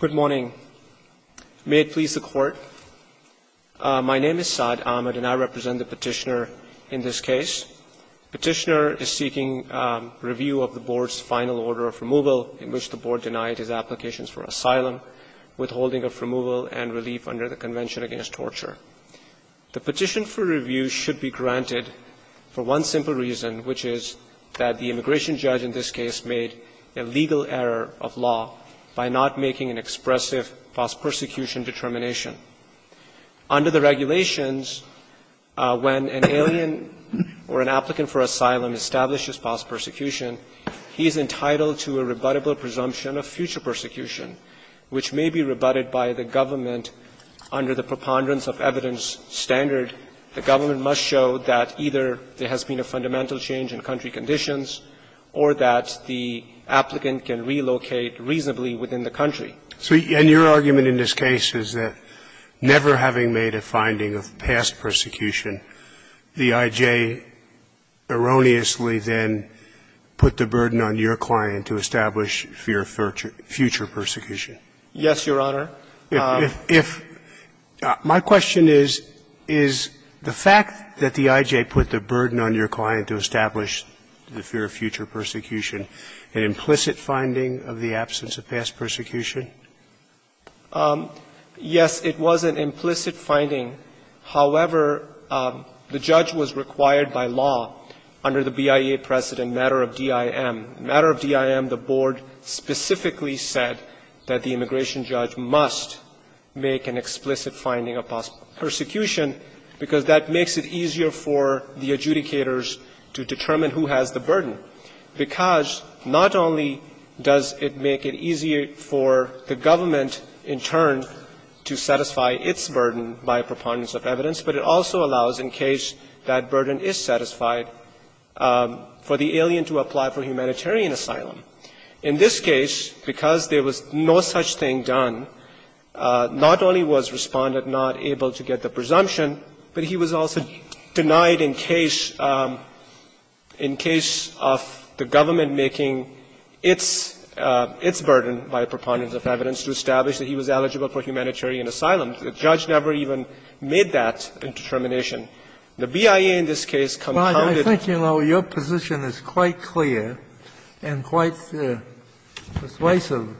Good morning. May it please the Court. My name is Saad Ahmed and I represent the petitioner in this case. Petitioner is seeking review of the board's final order of removal in which the board denied his applications for asylum, withholding of removal and relief under the Convention Against Torture. The petition for review should be granted for one simple reason, which is that the immigration judge in this case made a legal error of law by not making an expressive false persecution determination. Under the regulations, when an alien or an applicant for asylum establishes false persecution, he is entitled to a rebuttable presumption of future persecution, which may be rebutted by the government under the preponderance of evidence standard. The government must show that either there has been a fundamental change in country conditions or that the applicant can relocate reasonably within the country. So your argument in this case is that, never having made a finding of past persecution, the I.J. erroneously then put the burden on your client to establish future persecution? Yes, Your Honor. If my question is, is the fact that the I.J. put the burden on your client to establish the fear of future persecution an implicit finding of the absence of past persecution? Yes, it was an implicit finding. However, the judge was required by law under the BIA precedent matter of DIM. The board specifically said that the immigration judge must make an explicit finding of past persecution because that makes it easier for the adjudicators to determine who has the burden, because not only does it make it easier for the government in turn to satisfy its burden by preponderance of evidence, but it also allows, in case that burden is satisfied, for the alien to apply for humanitarian asylum. In this case, because there was no such thing done, not only was Respondent not able to get the presumption, but he was also denied in case of the government making its burden by preponderance of evidence to establish that he was eligible for humanitarian asylum. And the judge never even made that determination. The BIA in this case compounded. But I think, you know, your position is quite clear and quite persuasive.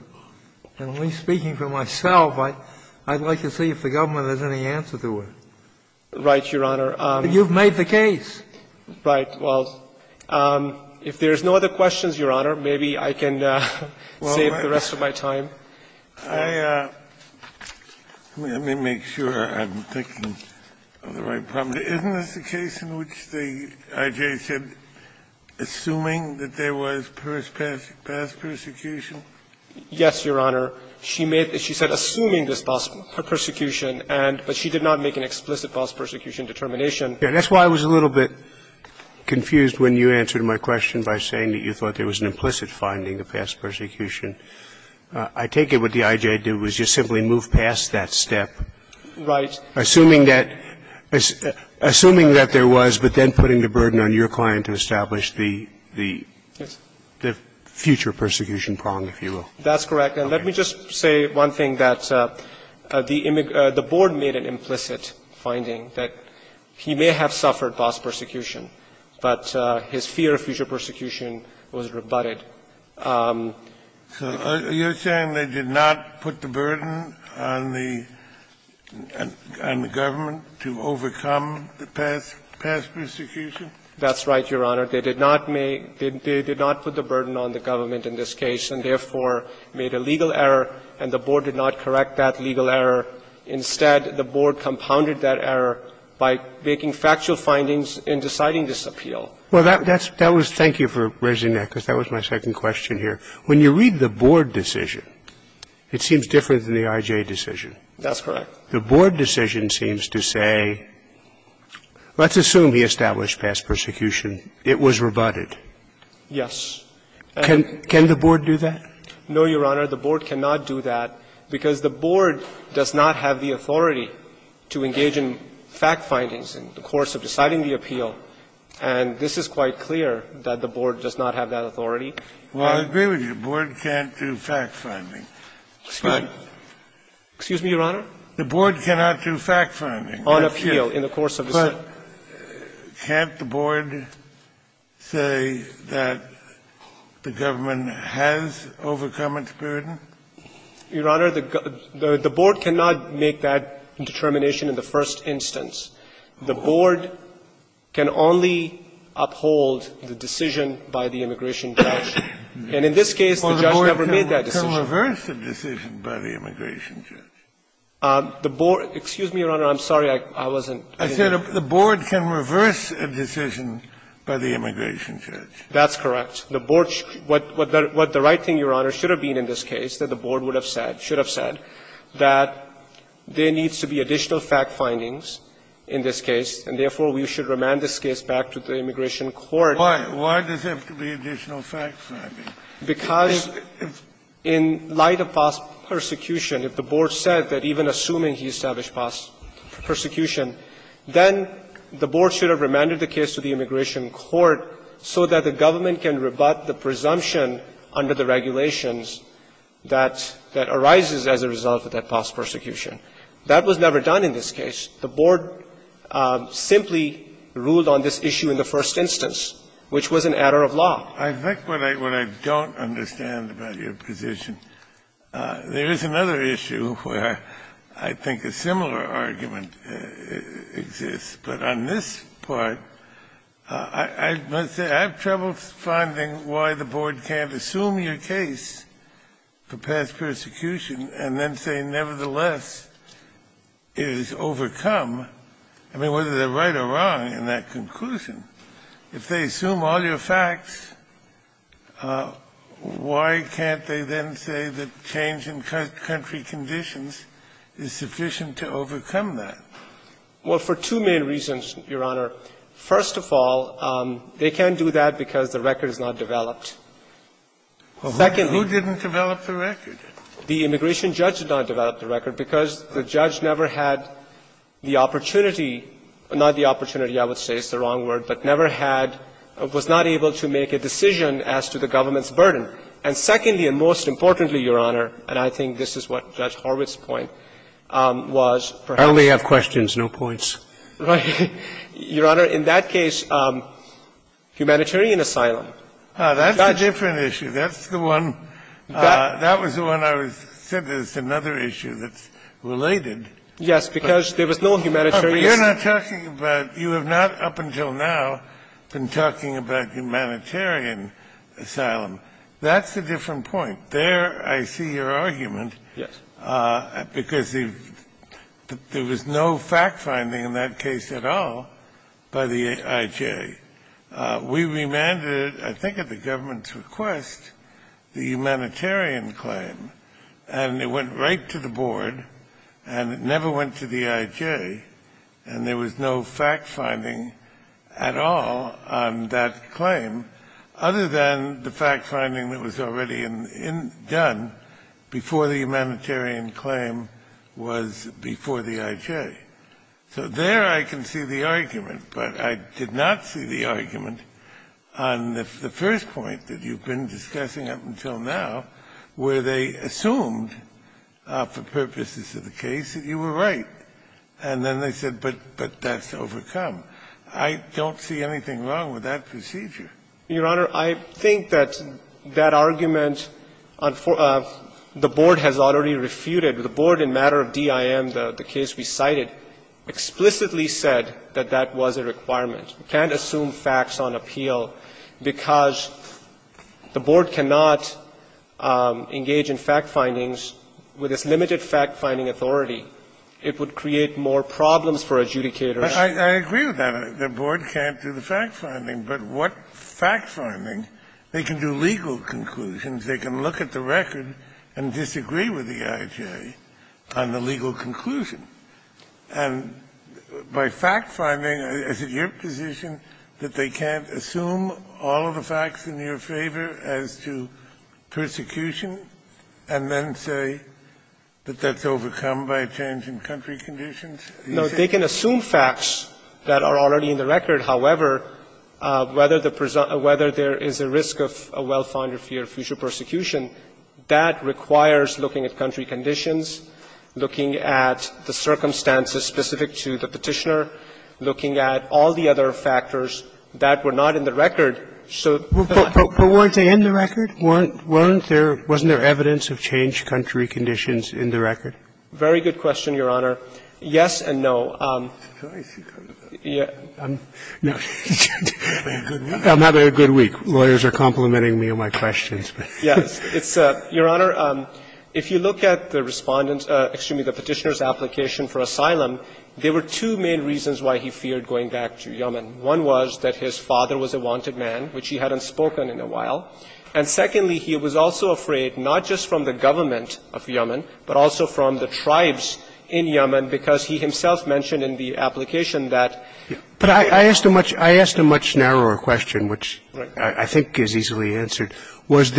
And at least speaking for myself, I'd like to see if the government has any answer to it. Right, Your Honor. You've made the case. Right. Well, if there's no other questions, Your Honor, maybe I can save the rest of my time. I may make sure I'm thinking of the right problem. Isn't this the case in which the I.J. said, assuming that there was past persecution? Yes, Your Honor. She made the case, she said, assuming this past persecution, but she did not make an explicit past persecution determination. That's why I was a little bit confused when you answered my question by saying that you thought there was an implicit finding of past persecution. I take it what the I.J. did was just simply move past that step. Right. Assuming that there was, but then putting the burden on your client to establish the future persecution prong, if you will. That's correct. And let me just say one thing, that the board made an implicit finding that he may have suffered past persecution, but his fear of future persecution was rebutted. So you're saying they did not put the burden on the government to overcome the past persecution? That's right, Your Honor. They did not put the burden on the government in this case and, therefore, made a legal error, and the board did not correct that legal error. Instead, the board compounded that error by making factual findings in deciding this appeal. Well, that was thank you for raising that, because that was my second question here. When you read the board decision, it seems different than the I.J. decision. That's correct. The board decision seems to say, let's assume he established past persecution. It was rebutted. Yes. Can the board do that? No, Your Honor. The board cannot do that, because the board does not have the authority to engage in fact findings in the course of deciding the appeal, and this is quite clear, that the board does not have that authority. Well, I agree with you. The board can't do fact finding. Excuse me, Your Honor? The board cannot do fact finding. On appeal, in the course of the appeal. But can't the board say that the government has overcome its burden? Your Honor, the board cannot make that determination in the first instance. The board can only uphold the decision by the immigration judge. And in this case, the judge never made that decision. Well, the board can reverse the decision by the immigration judge. The board – excuse me, Your Honor, I'm sorry, I wasn't – I said the board can reverse a decision by the immigration judge. That's correct. The board – what the right thing, Your Honor, should have been in this case, that the board would have said, should have said, that there needs to be additional fact findings in this case, and therefore, we should remand this case back to the immigration court. Why? Why does it have to be additional fact findings? Because in light of past persecution, if the board said that even assuming he established past persecution, then the board should have remanded the case to the immigration court so that the government can rebut the presumption under the regulations that – that arises as a result of that past persecution. That was never done in this case. The board simply ruled on this issue in the first instance, which was an error of law. I think what I – what I don't understand about your position, there is another issue where I think a similar argument exists. But on this part, I must say, I have trouble finding why the board can't assume your case for past persecution and then say, nevertheless, it is overcome. I mean, whether they're right or wrong in that conclusion. If they assume all your facts, why can't they then say that change in country conditions is sufficient to overcome that? Well, for two main reasons, Your Honor. First of all, they can't do that because the record is not developed. Second – Well, who didn't develop the record? The immigration judge did not develop the record because the judge never had the opportunity – not the opportunity, I would say, it's the wrong word, but never had – was not able to make a decision as to the government's burden. And secondly, and most importantly, Your Honor, and I think this is what Judge Horwitz' point was, perhaps – I only have questions, no points. Your Honor, in that case, humanitarian asylum. That's a different issue. That's the one – that was the one I said is another issue that's related. Yes, because there was no humanitarian – You're not talking about – you have not, up until now, been talking about humanitarian asylum. That's a different point. There I see your argument. Yes. Because there was no fact-finding in that case at all by the IJ. We remanded, I think at the government's request, the humanitarian claim. And it went right to the board, and it never went to the IJ. And there was no fact-finding at all on that claim, other than the fact-finding that was already in – done before the humanitarian claim was before the IJ. So there I can see the argument, but I did not see the argument on the first point that you've been discussing up until now, where they assumed, for purposes of the case, that you were right. And then they said, but that's overcome. I don't see anything wrong with that procedure. Your Honor, I think that that argument, the board has already refuted. The board, in matter of D.I.M., the case we cited, explicitly said that that was a requirement. We can't assume facts on appeal because the board cannot engage in fact-findings with its limited fact-finding authority. It would create more problems for adjudicators. I agree with that. The board can't do the fact-finding. But what fact-finding? They can do legal conclusions. They can look at the record and disagree with the IJ on the legal conclusion. And by fact-finding, is it your position that they can't assume all of the facts in your favor as to persecution and then say that that's overcome by a change in country conditions? No. They can assume facts that are already in the record. However, whether there is a risk of a well-founded fear of future persecution, that requires looking at country conditions, looking at the circumstances specific to the Petitioner, looking at all the other factors that were not in the record. So the fact-finding. But weren't they in the record? Wasn't there evidence of changed country conditions in the record? Very good question, Your Honor. Yes and no. I'm having a good week. Lawyers are complimenting me on my questions. Your Honor, if you look at the Respondent's, excuse me, the Petitioner's application for asylum, there were two main reasons why he feared going back to Yemen. One was that his father was a wanted man, which he hadn't spoken in a while. And secondly, he was also afraid not just from the government of Yemen, but also from the tribes in Yemen, because he himself mentioned in the application that he feared going back to Yemen. But I asked a much narrower question, which I think is easily answered. Wasn't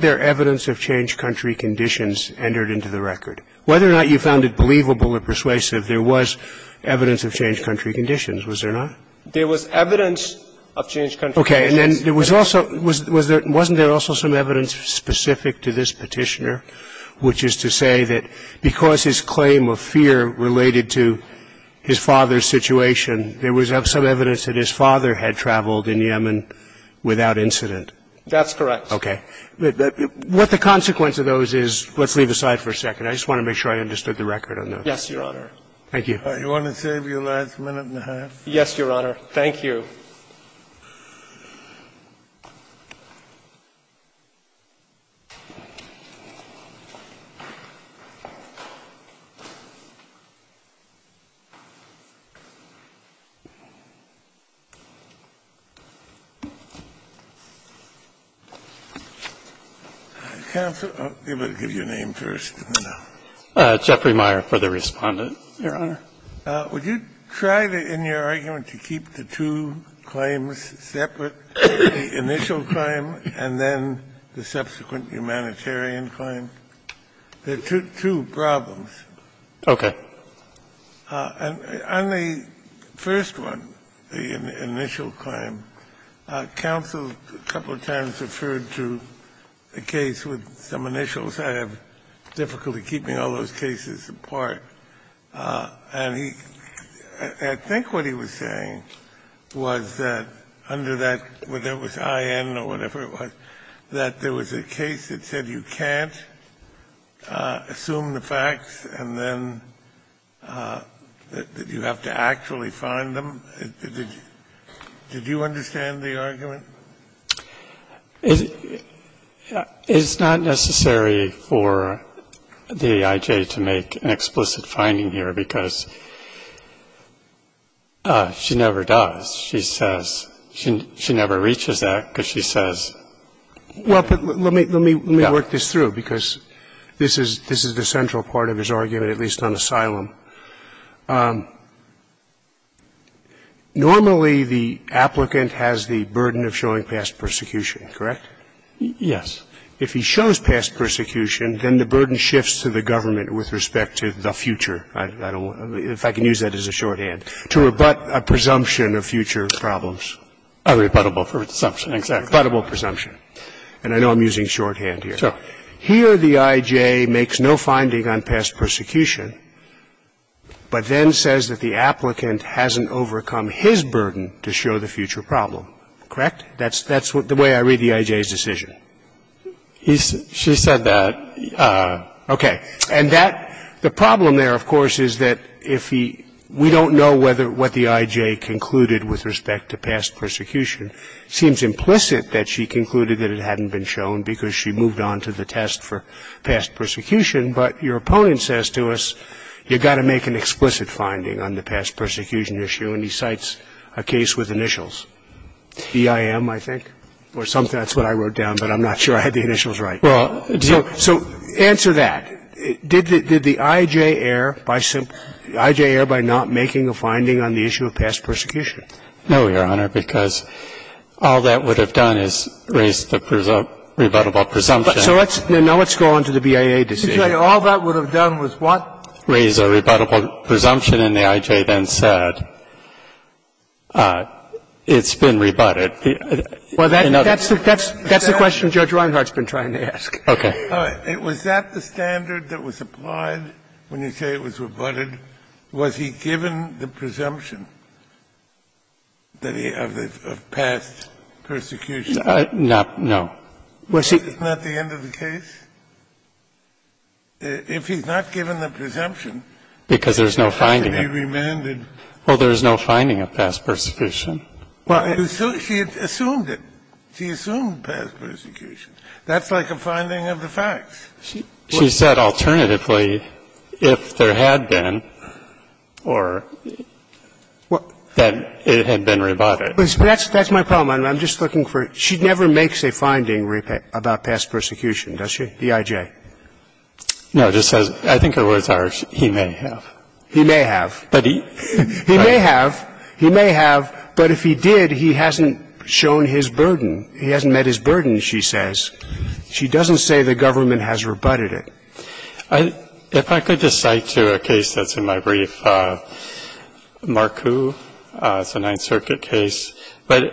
there evidence of changed country conditions entered into the record? Whether or not you found it believable or persuasive, there was evidence of changed country conditions. Was there not? There was evidence of changed country conditions. Okay. And then there was also – wasn't there also some evidence specific to this Petitioner, which is to say that because his claim of fear related to his father's situation, there was some evidence that his father had traveled in Yemen without incident? That's correct. Okay. What the consequence of those is, let's leave aside for a second. I just want to make sure I understood the record on those. Yes, Your Honor. Thank you. Do you want to save your last minute and a half? Yes, Your Honor. Thank you. Counsel, I'll give you a name first. Jeffrey Meyer for the Respondent. Your Honor. Would you try to, in your argument, to keep the two claims separate, the initial claim and then the subsequent humanitarian claim? There are two problems. Okay. On the first one, the initial claim, counsel a couple of times referred to a case with some initials. I have difficulty keeping all those cases apart. And he – I think what he was saying was that under that, whether it was IN or whatever it was, that there was a case that said you can't assume the facts and then that you have to actually find them. Did you understand the argument? It's not necessary for the I.J. to make an explicit finding here because she never does. She says – she never reaches that because she says – Well, but let me work this through because this is the central part of his argument, at least on asylum. Normally, the applicant has the burden of showing past persecution, correct? Yes. If he shows past persecution, then the burden shifts to the government with respect to the future. I don't – if I can use that as a shorthand. To rebut a presumption of future problems. A rebuttable presumption, exactly. A rebuttable presumption. And I know I'm using shorthand here. So here the I.J. makes no finding on past persecution. But then says that the applicant hasn't overcome his burden to show the future problem, correct? That's the way I read the I.J.'s decision. She said that. Okay. And that – the problem there, of course, is that if he – we don't know whether – what the I.J. concluded with respect to past persecution. It seems implicit that she concluded that it hadn't been shown because she moved on to the test for past persecution. But your opponent says to us, you've got to make an explicit finding on the past persecution issue, and he cites a case with initials, EIM, I think, or something. That's what I wrote down, but I'm not sure I had the initials right. So answer that. Did the I.J. err by not making a finding on the issue of past persecution? No, Your Honor, because all that would have done is raised the rebuttable presumption. So let's – now let's go on to the BIA decision. The I.J. all that would have done was what? Raise a rebuttable presumption, and the I.J. then said it's been rebutted. Well, that's the question Judge Reinhart's been trying to ask. Okay. All right. Was that the standard that was applied when you say it was rebutted? Was he given the presumption that he – of past persecution? No. Wasn't that the end of the case? If he's not given the presumption, it's not going to be remanded. Because there's no finding. Well, there's no finding of past persecution. Well, she assumed it. She assumed past persecution. That's like a finding of the facts. She said alternatively, if there had been, or that it had been rebutted. That's my problem. I'm just looking for – she never makes a finding about past persecution, does she, the I.J.? No. It just says, I think her words are, he may have. He may have. He may have. He may have. But if he did, he hasn't shown his burden. He hasn't met his burden, she says. She doesn't say the government has rebutted it. If I could just cite to a case that's in my brief, Marcu. It's a Ninth Circuit case. But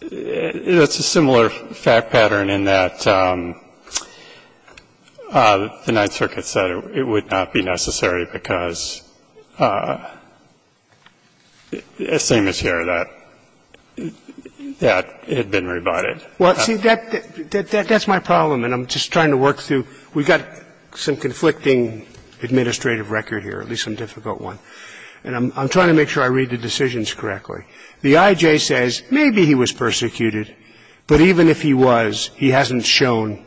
it's a similar fact pattern in that the Ninth Circuit said it would not be necessary because, same as here, that it had been rebutted. Well, see, that's my problem. And I'm just trying to work through. We've got some conflicting administrative record here, at least some difficult And I'm trying to make sure I read the decisions correctly. The I.J. says maybe he was persecuted. But even if he was, he hasn't shown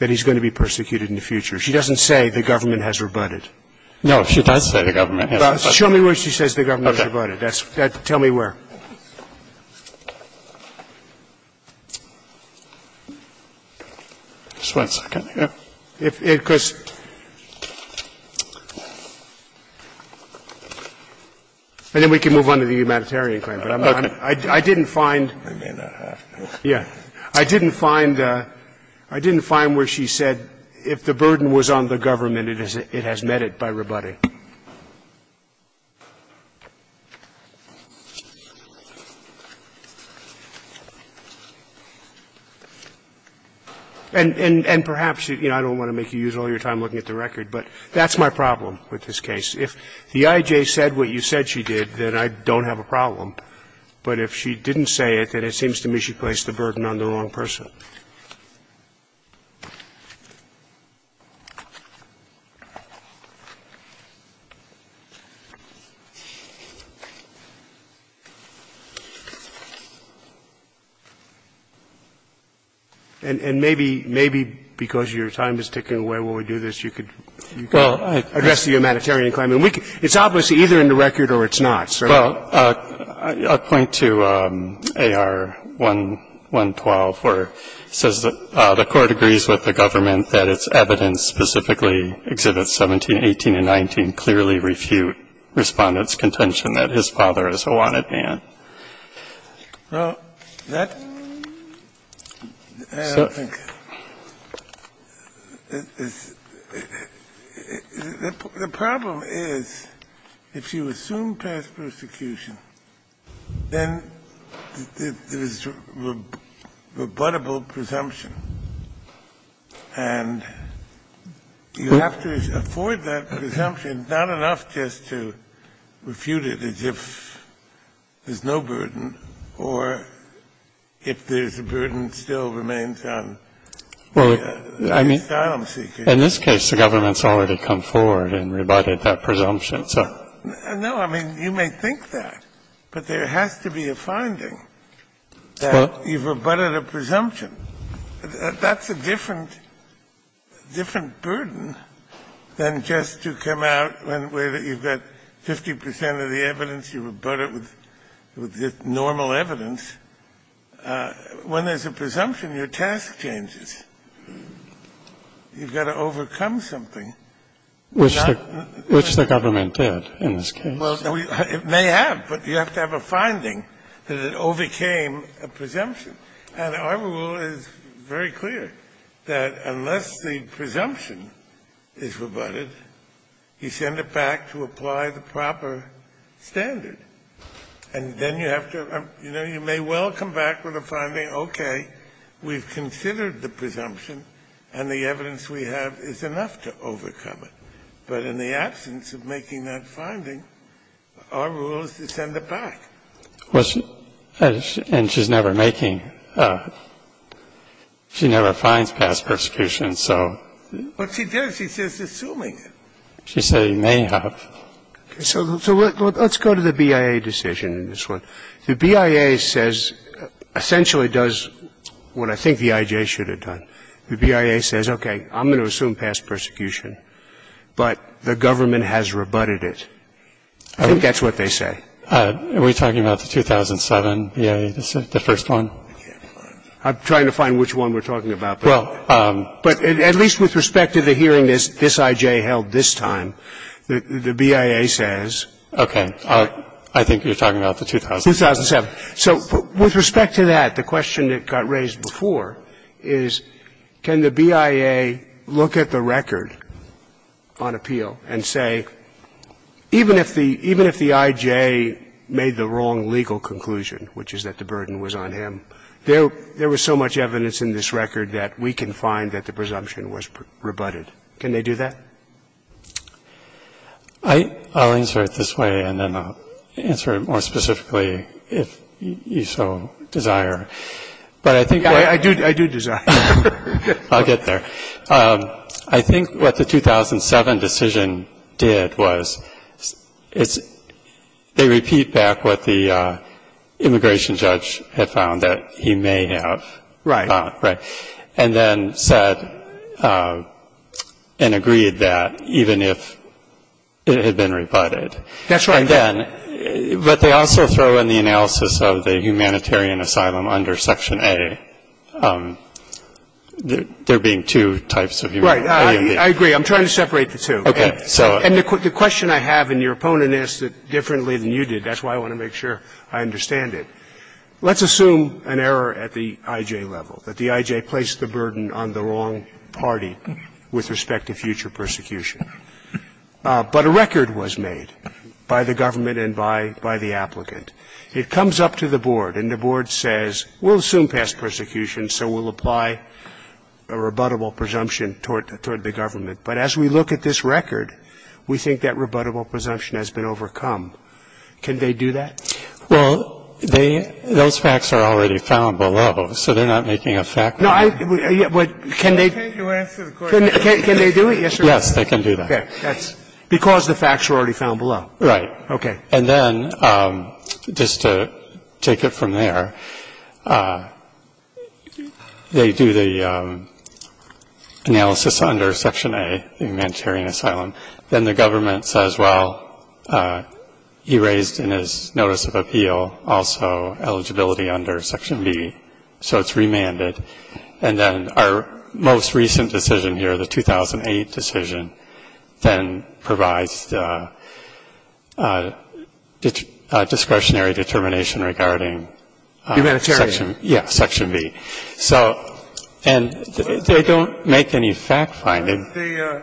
that he's going to be persecuted in the future. She doesn't say the government has rebutted. No, she does say the government has rebutted. Show me where she says the government has rebutted. Tell me where. Just one second. And then we can move on to the humanitarian claim. But I didn't find. I didn't find where she said if the burden was on the government, it has met it by rebutting. And perhaps, you know, I don't want to make you use all your time looking at the record, but that's my problem with this case. If the I.J. said what you said she did, then I don't have a problem. But if she didn't say it, then it seems to me she placed the burden on the wrong person. And maybe, maybe because your time is ticking away while we do this, you could address the humanitarian claim. It's obviously either in the record or it's not. So I would point to AR-1112, where it says that the court agrees with the government that its evidence specifically, Exhibits 17, 18, and 19, clearly refute Respondent's contention that his father is a wanted man. Well, that's the problem is, if you assume past persecution, then there is rebuttable presumption, and you have to afford that presumption, not enough just to refute it as if there's no burden, or if there's a burden still remains on the asylum seeker. In this case, the government's already come forward and rebutted that presumption. No, I mean, you may think that, but there has to be a finding that you've rebutted a presumption. That's a different burden than just to come out when you've got 50 percent of the evidence, you rebut it with normal evidence. When there's a presumption, your task changes. You've got to overcome something. Which the government did in this case. Well, it may have, but you have to have a finding that it overcame a presumption. And our rule is very clear, that unless the presumption is rebutted, you send it back to apply the proper standard. And then you have to, you know, you may well come back with a finding, okay, we've considered the presumption, and the evidence we have is enough to overcome it. But in the absence of making that finding, our rule is to send it back. And she's never making, she never finds past persecution, so. But she does. She's just assuming it. She said you may have. So let's go to the BIA decision in this one. The BIA says, essentially does what I think the IJ should have done. The BIA says, okay, I'm going to assume past persecution, but the government has rebutted it. I think that's what they say. Are we talking about the 2007 BIA, the first one? I'm trying to find which one we're talking about. Well. But at least with respect to the hearing this IJ held this time, the BIA says. Okay. I think you're talking about the 2007. 2007. So with respect to that, the question that got raised before is, can the BIA look at the record on appeal and say, even if the IJ made the wrong legal conclusion, which is that the burden was on him, there was so much evidence in this record that we can find that the presumption was rebutted. Can they do that? I'll answer it this way, and then I'll answer it more specifically if you so desire. But I think I do desire. I'll get there. I think what the 2007 decision did was, they repeat back what the immigration judge had found that he may have found, and then said and agreed that even if it had been rebutted. That's right. And then, but they also throw in the analysis of the humanitarian asylum under Section A, there being two types of humanitarian. Right. I agree. I'm trying to separate the two. Okay. So. And the question I have, and your opponent asked it differently than you did, that's why I want to make sure I understand it. Let's assume an error at the IJ level, that the IJ placed the burden on the wrong party with respect to future persecution. But a record was made by the government and by the applicant. It comes up to the board, and the board says, we'll assume past persecution, so we'll apply a rebuttable presumption toward the government. But as we look at this record, we think that rebuttable presumption has been overcome. Can they do that? Well, they, those facts are already found below, so they're not making a fact. No, I, can they, can they do it? Yes, they can do that. Okay. That's because the facts are already found below. Right. Okay. And then, just to take it from there, they do the analysis under section A, humanitarian asylum. Then the government says, well, he raised in his notice of appeal also eligibility under section B. So it's remanded. And then our most recent decision here, the 2008 decision, then provides discretionary determination regarding section B. So, and they don't make any fact finding. Was the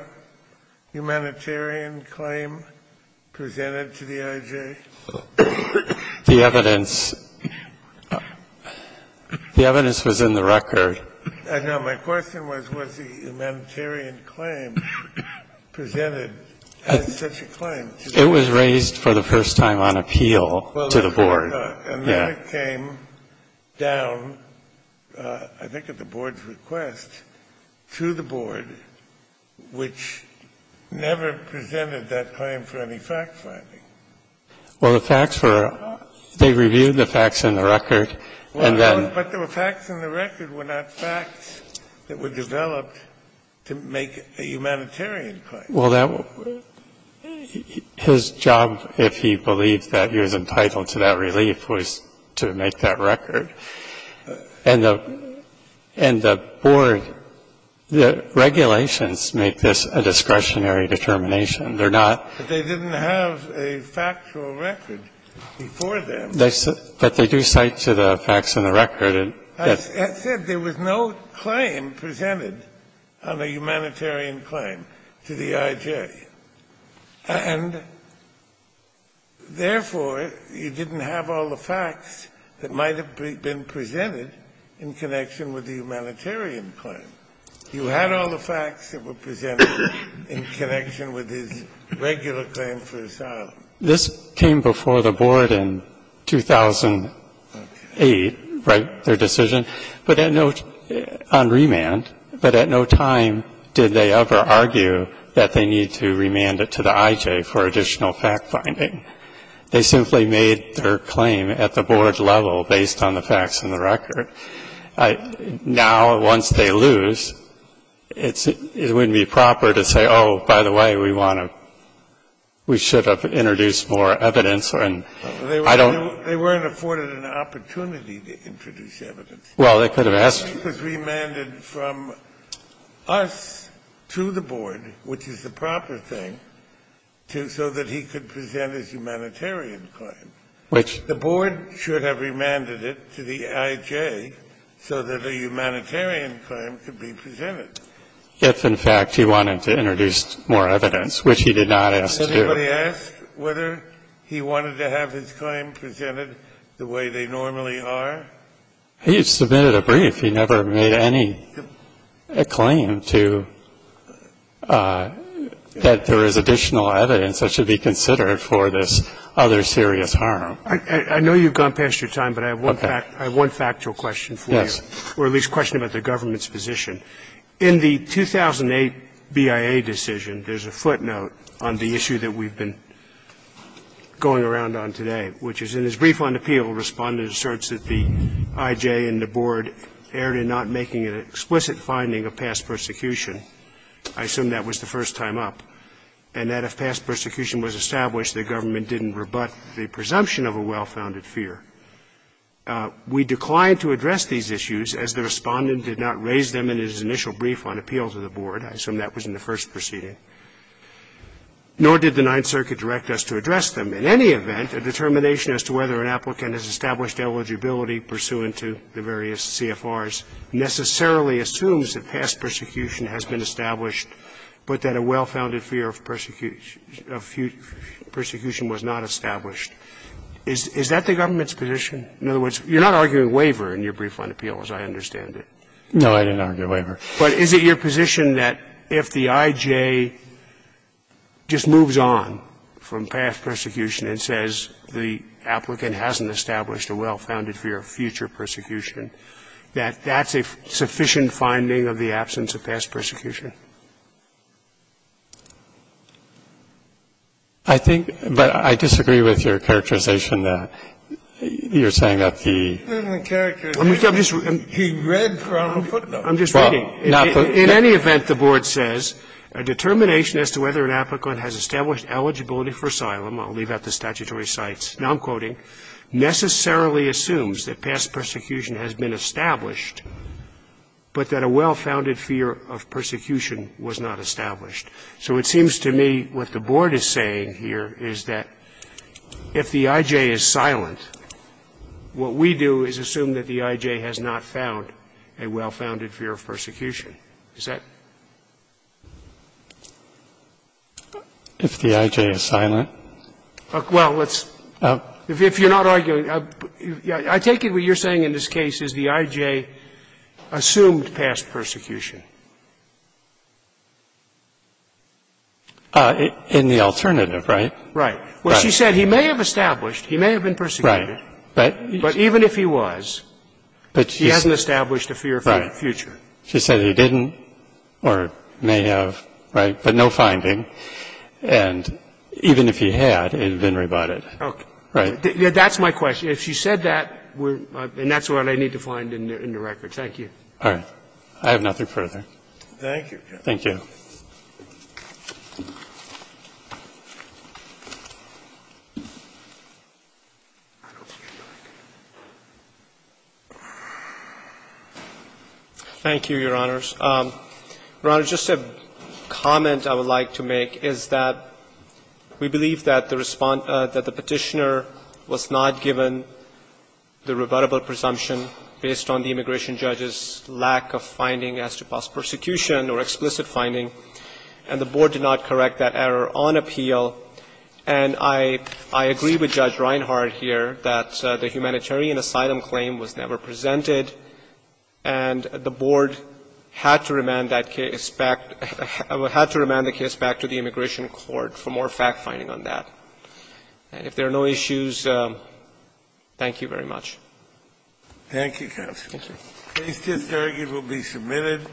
humanitarian claim presented to the IJ? The evidence, the evidence was in the record. I know. My question was, was the humanitarian claim presented as such a claim? It was raised for the first time on appeal to the board. Well, and then it came down, I think at the board's request, to the board, which never presented that claim for any fact finding. Well, the facts were, they reviewed the facts in the record, and then. But the facts in the record were not facts that were developed to make a humanitarian claim. Well, that was, his job, if he believed that he was entitled to that relief, was to make that record. And the board, the regulations make this a discretionary determination. They're not. But they didn't have a factual record before them. But they do cite to the facts in the record. As I said, there was no claim presented on a humanitarian claim to the IJ. And therefore, you didn't have all the facts that might have been presented in connection with the humanitarian claim. You had all the facts that were presented in connection with his regular claim for asylum. This came before the board in 2008, right, their decision, but at no — on remand, but at no time did they ever argue that they need to remand it to the IJ for additional fact finding. They simply made their claim at the board level based on the facts in the record. Now, once they lose, it's — it wouldn't be proper to say, oh, by the way, we want to — we should have introduced more evidence, and I don't — They weren't afforded an opportunity to introduce evidence. Well, they could have asked — It was remanded from us to the board, which is the proper thing, so that he could present his humanitarian claim. Which — The board should have remanded it to the IJ so that a humanitarian claim could be presented. If, in fact, he wanted to introduce more evidence, which he did not ask to do. Has anybody asked whether he wanted to have his claim presented the way they normally are? He submitted a brief. He never made any claim to — that there is additional evidence that should be considered for this other serious harm. I know you've gone past your time, but I have one fact — I have one factual question for you, or at least a question about the government's position. In the 2008 BIA decision, there's a footnote on the issue that we've been going around on today, which is in his brief on appeal, Respondent asserts that the IJ and the board erred in not making an explicit finding of past persecution. I assume that was the first time up, and that if past persecution was established, the government didn't rebut the presumption of a well-founded fear. We declined to address these issues, as the Respondent did not raise them in his initial brief on appeal to the board. I assume that was in the first proceeding. Nor did the Ninth Circuit direct us to address them. In any event, a determination as to whether an applicant has established eligibility pursuant to the various CFRs necessarily assumes that past persecution has been established, but that a well-founded fear of persecution was not established. Is that the government's position? In other words, you're not arguing waiver in your brief on appeal, as I understand it. No, I didn't argue waiver. But is it your position that if the IJ just moves on from past persecution and says the applicant hasn't established a well-founded fear of future persecution, that that's a sufficient finding of the absence of past persecution? I think — but I disagree with your characterization that you're saying that the — He read from the footnote. I'm just reading. In any event, the board says, A determination as to whether an applicant has established eligibility for asylum — I'll leave out the statutory cites, now I'm quoting — necessarily assumes that past persecution has been established, but that a well-founded fear of persecution was not established. So it seems to me what the board is saying here is that if the IJ is silent, what we do is assume that the IJ has not found a well-founded fear of persecution. Is that — If the IJ is silent. Well, let's — if you're not arguing — I take it what you're saying in this case is that the IJ assumed past persecution. In the alternative, right? Right. Well, she said he may have established, he may have been persecuted. Right. But even if he was, he hasn't established a fear of future. She said he didn't or may have, right, but no finding. And even if he had, it would have been rebutted. Okay. Right. That's my question. If she said that, we're — and that's what I need to find in the record. Thank you. All right. I have nothing further. Thank you, Judge. Thank you. Thank you, Your Honors. Your Honor, just a comment I would like to make is that we believe that the — that the Petitioner was not given the rebuttable presumption based on the immigration judge's lack of finding as to past persecution or explicit finding, and the Board did not correct that error on appeal. And I agree with Judge Reinhart here that the humanitarian asylum claim was never presented, and the Board had to remand that case back — had to remand the case back to the Immigration Court for more fact-finding on that. And if there are no issues, thank you very much. Thank you, counsel. Thank you.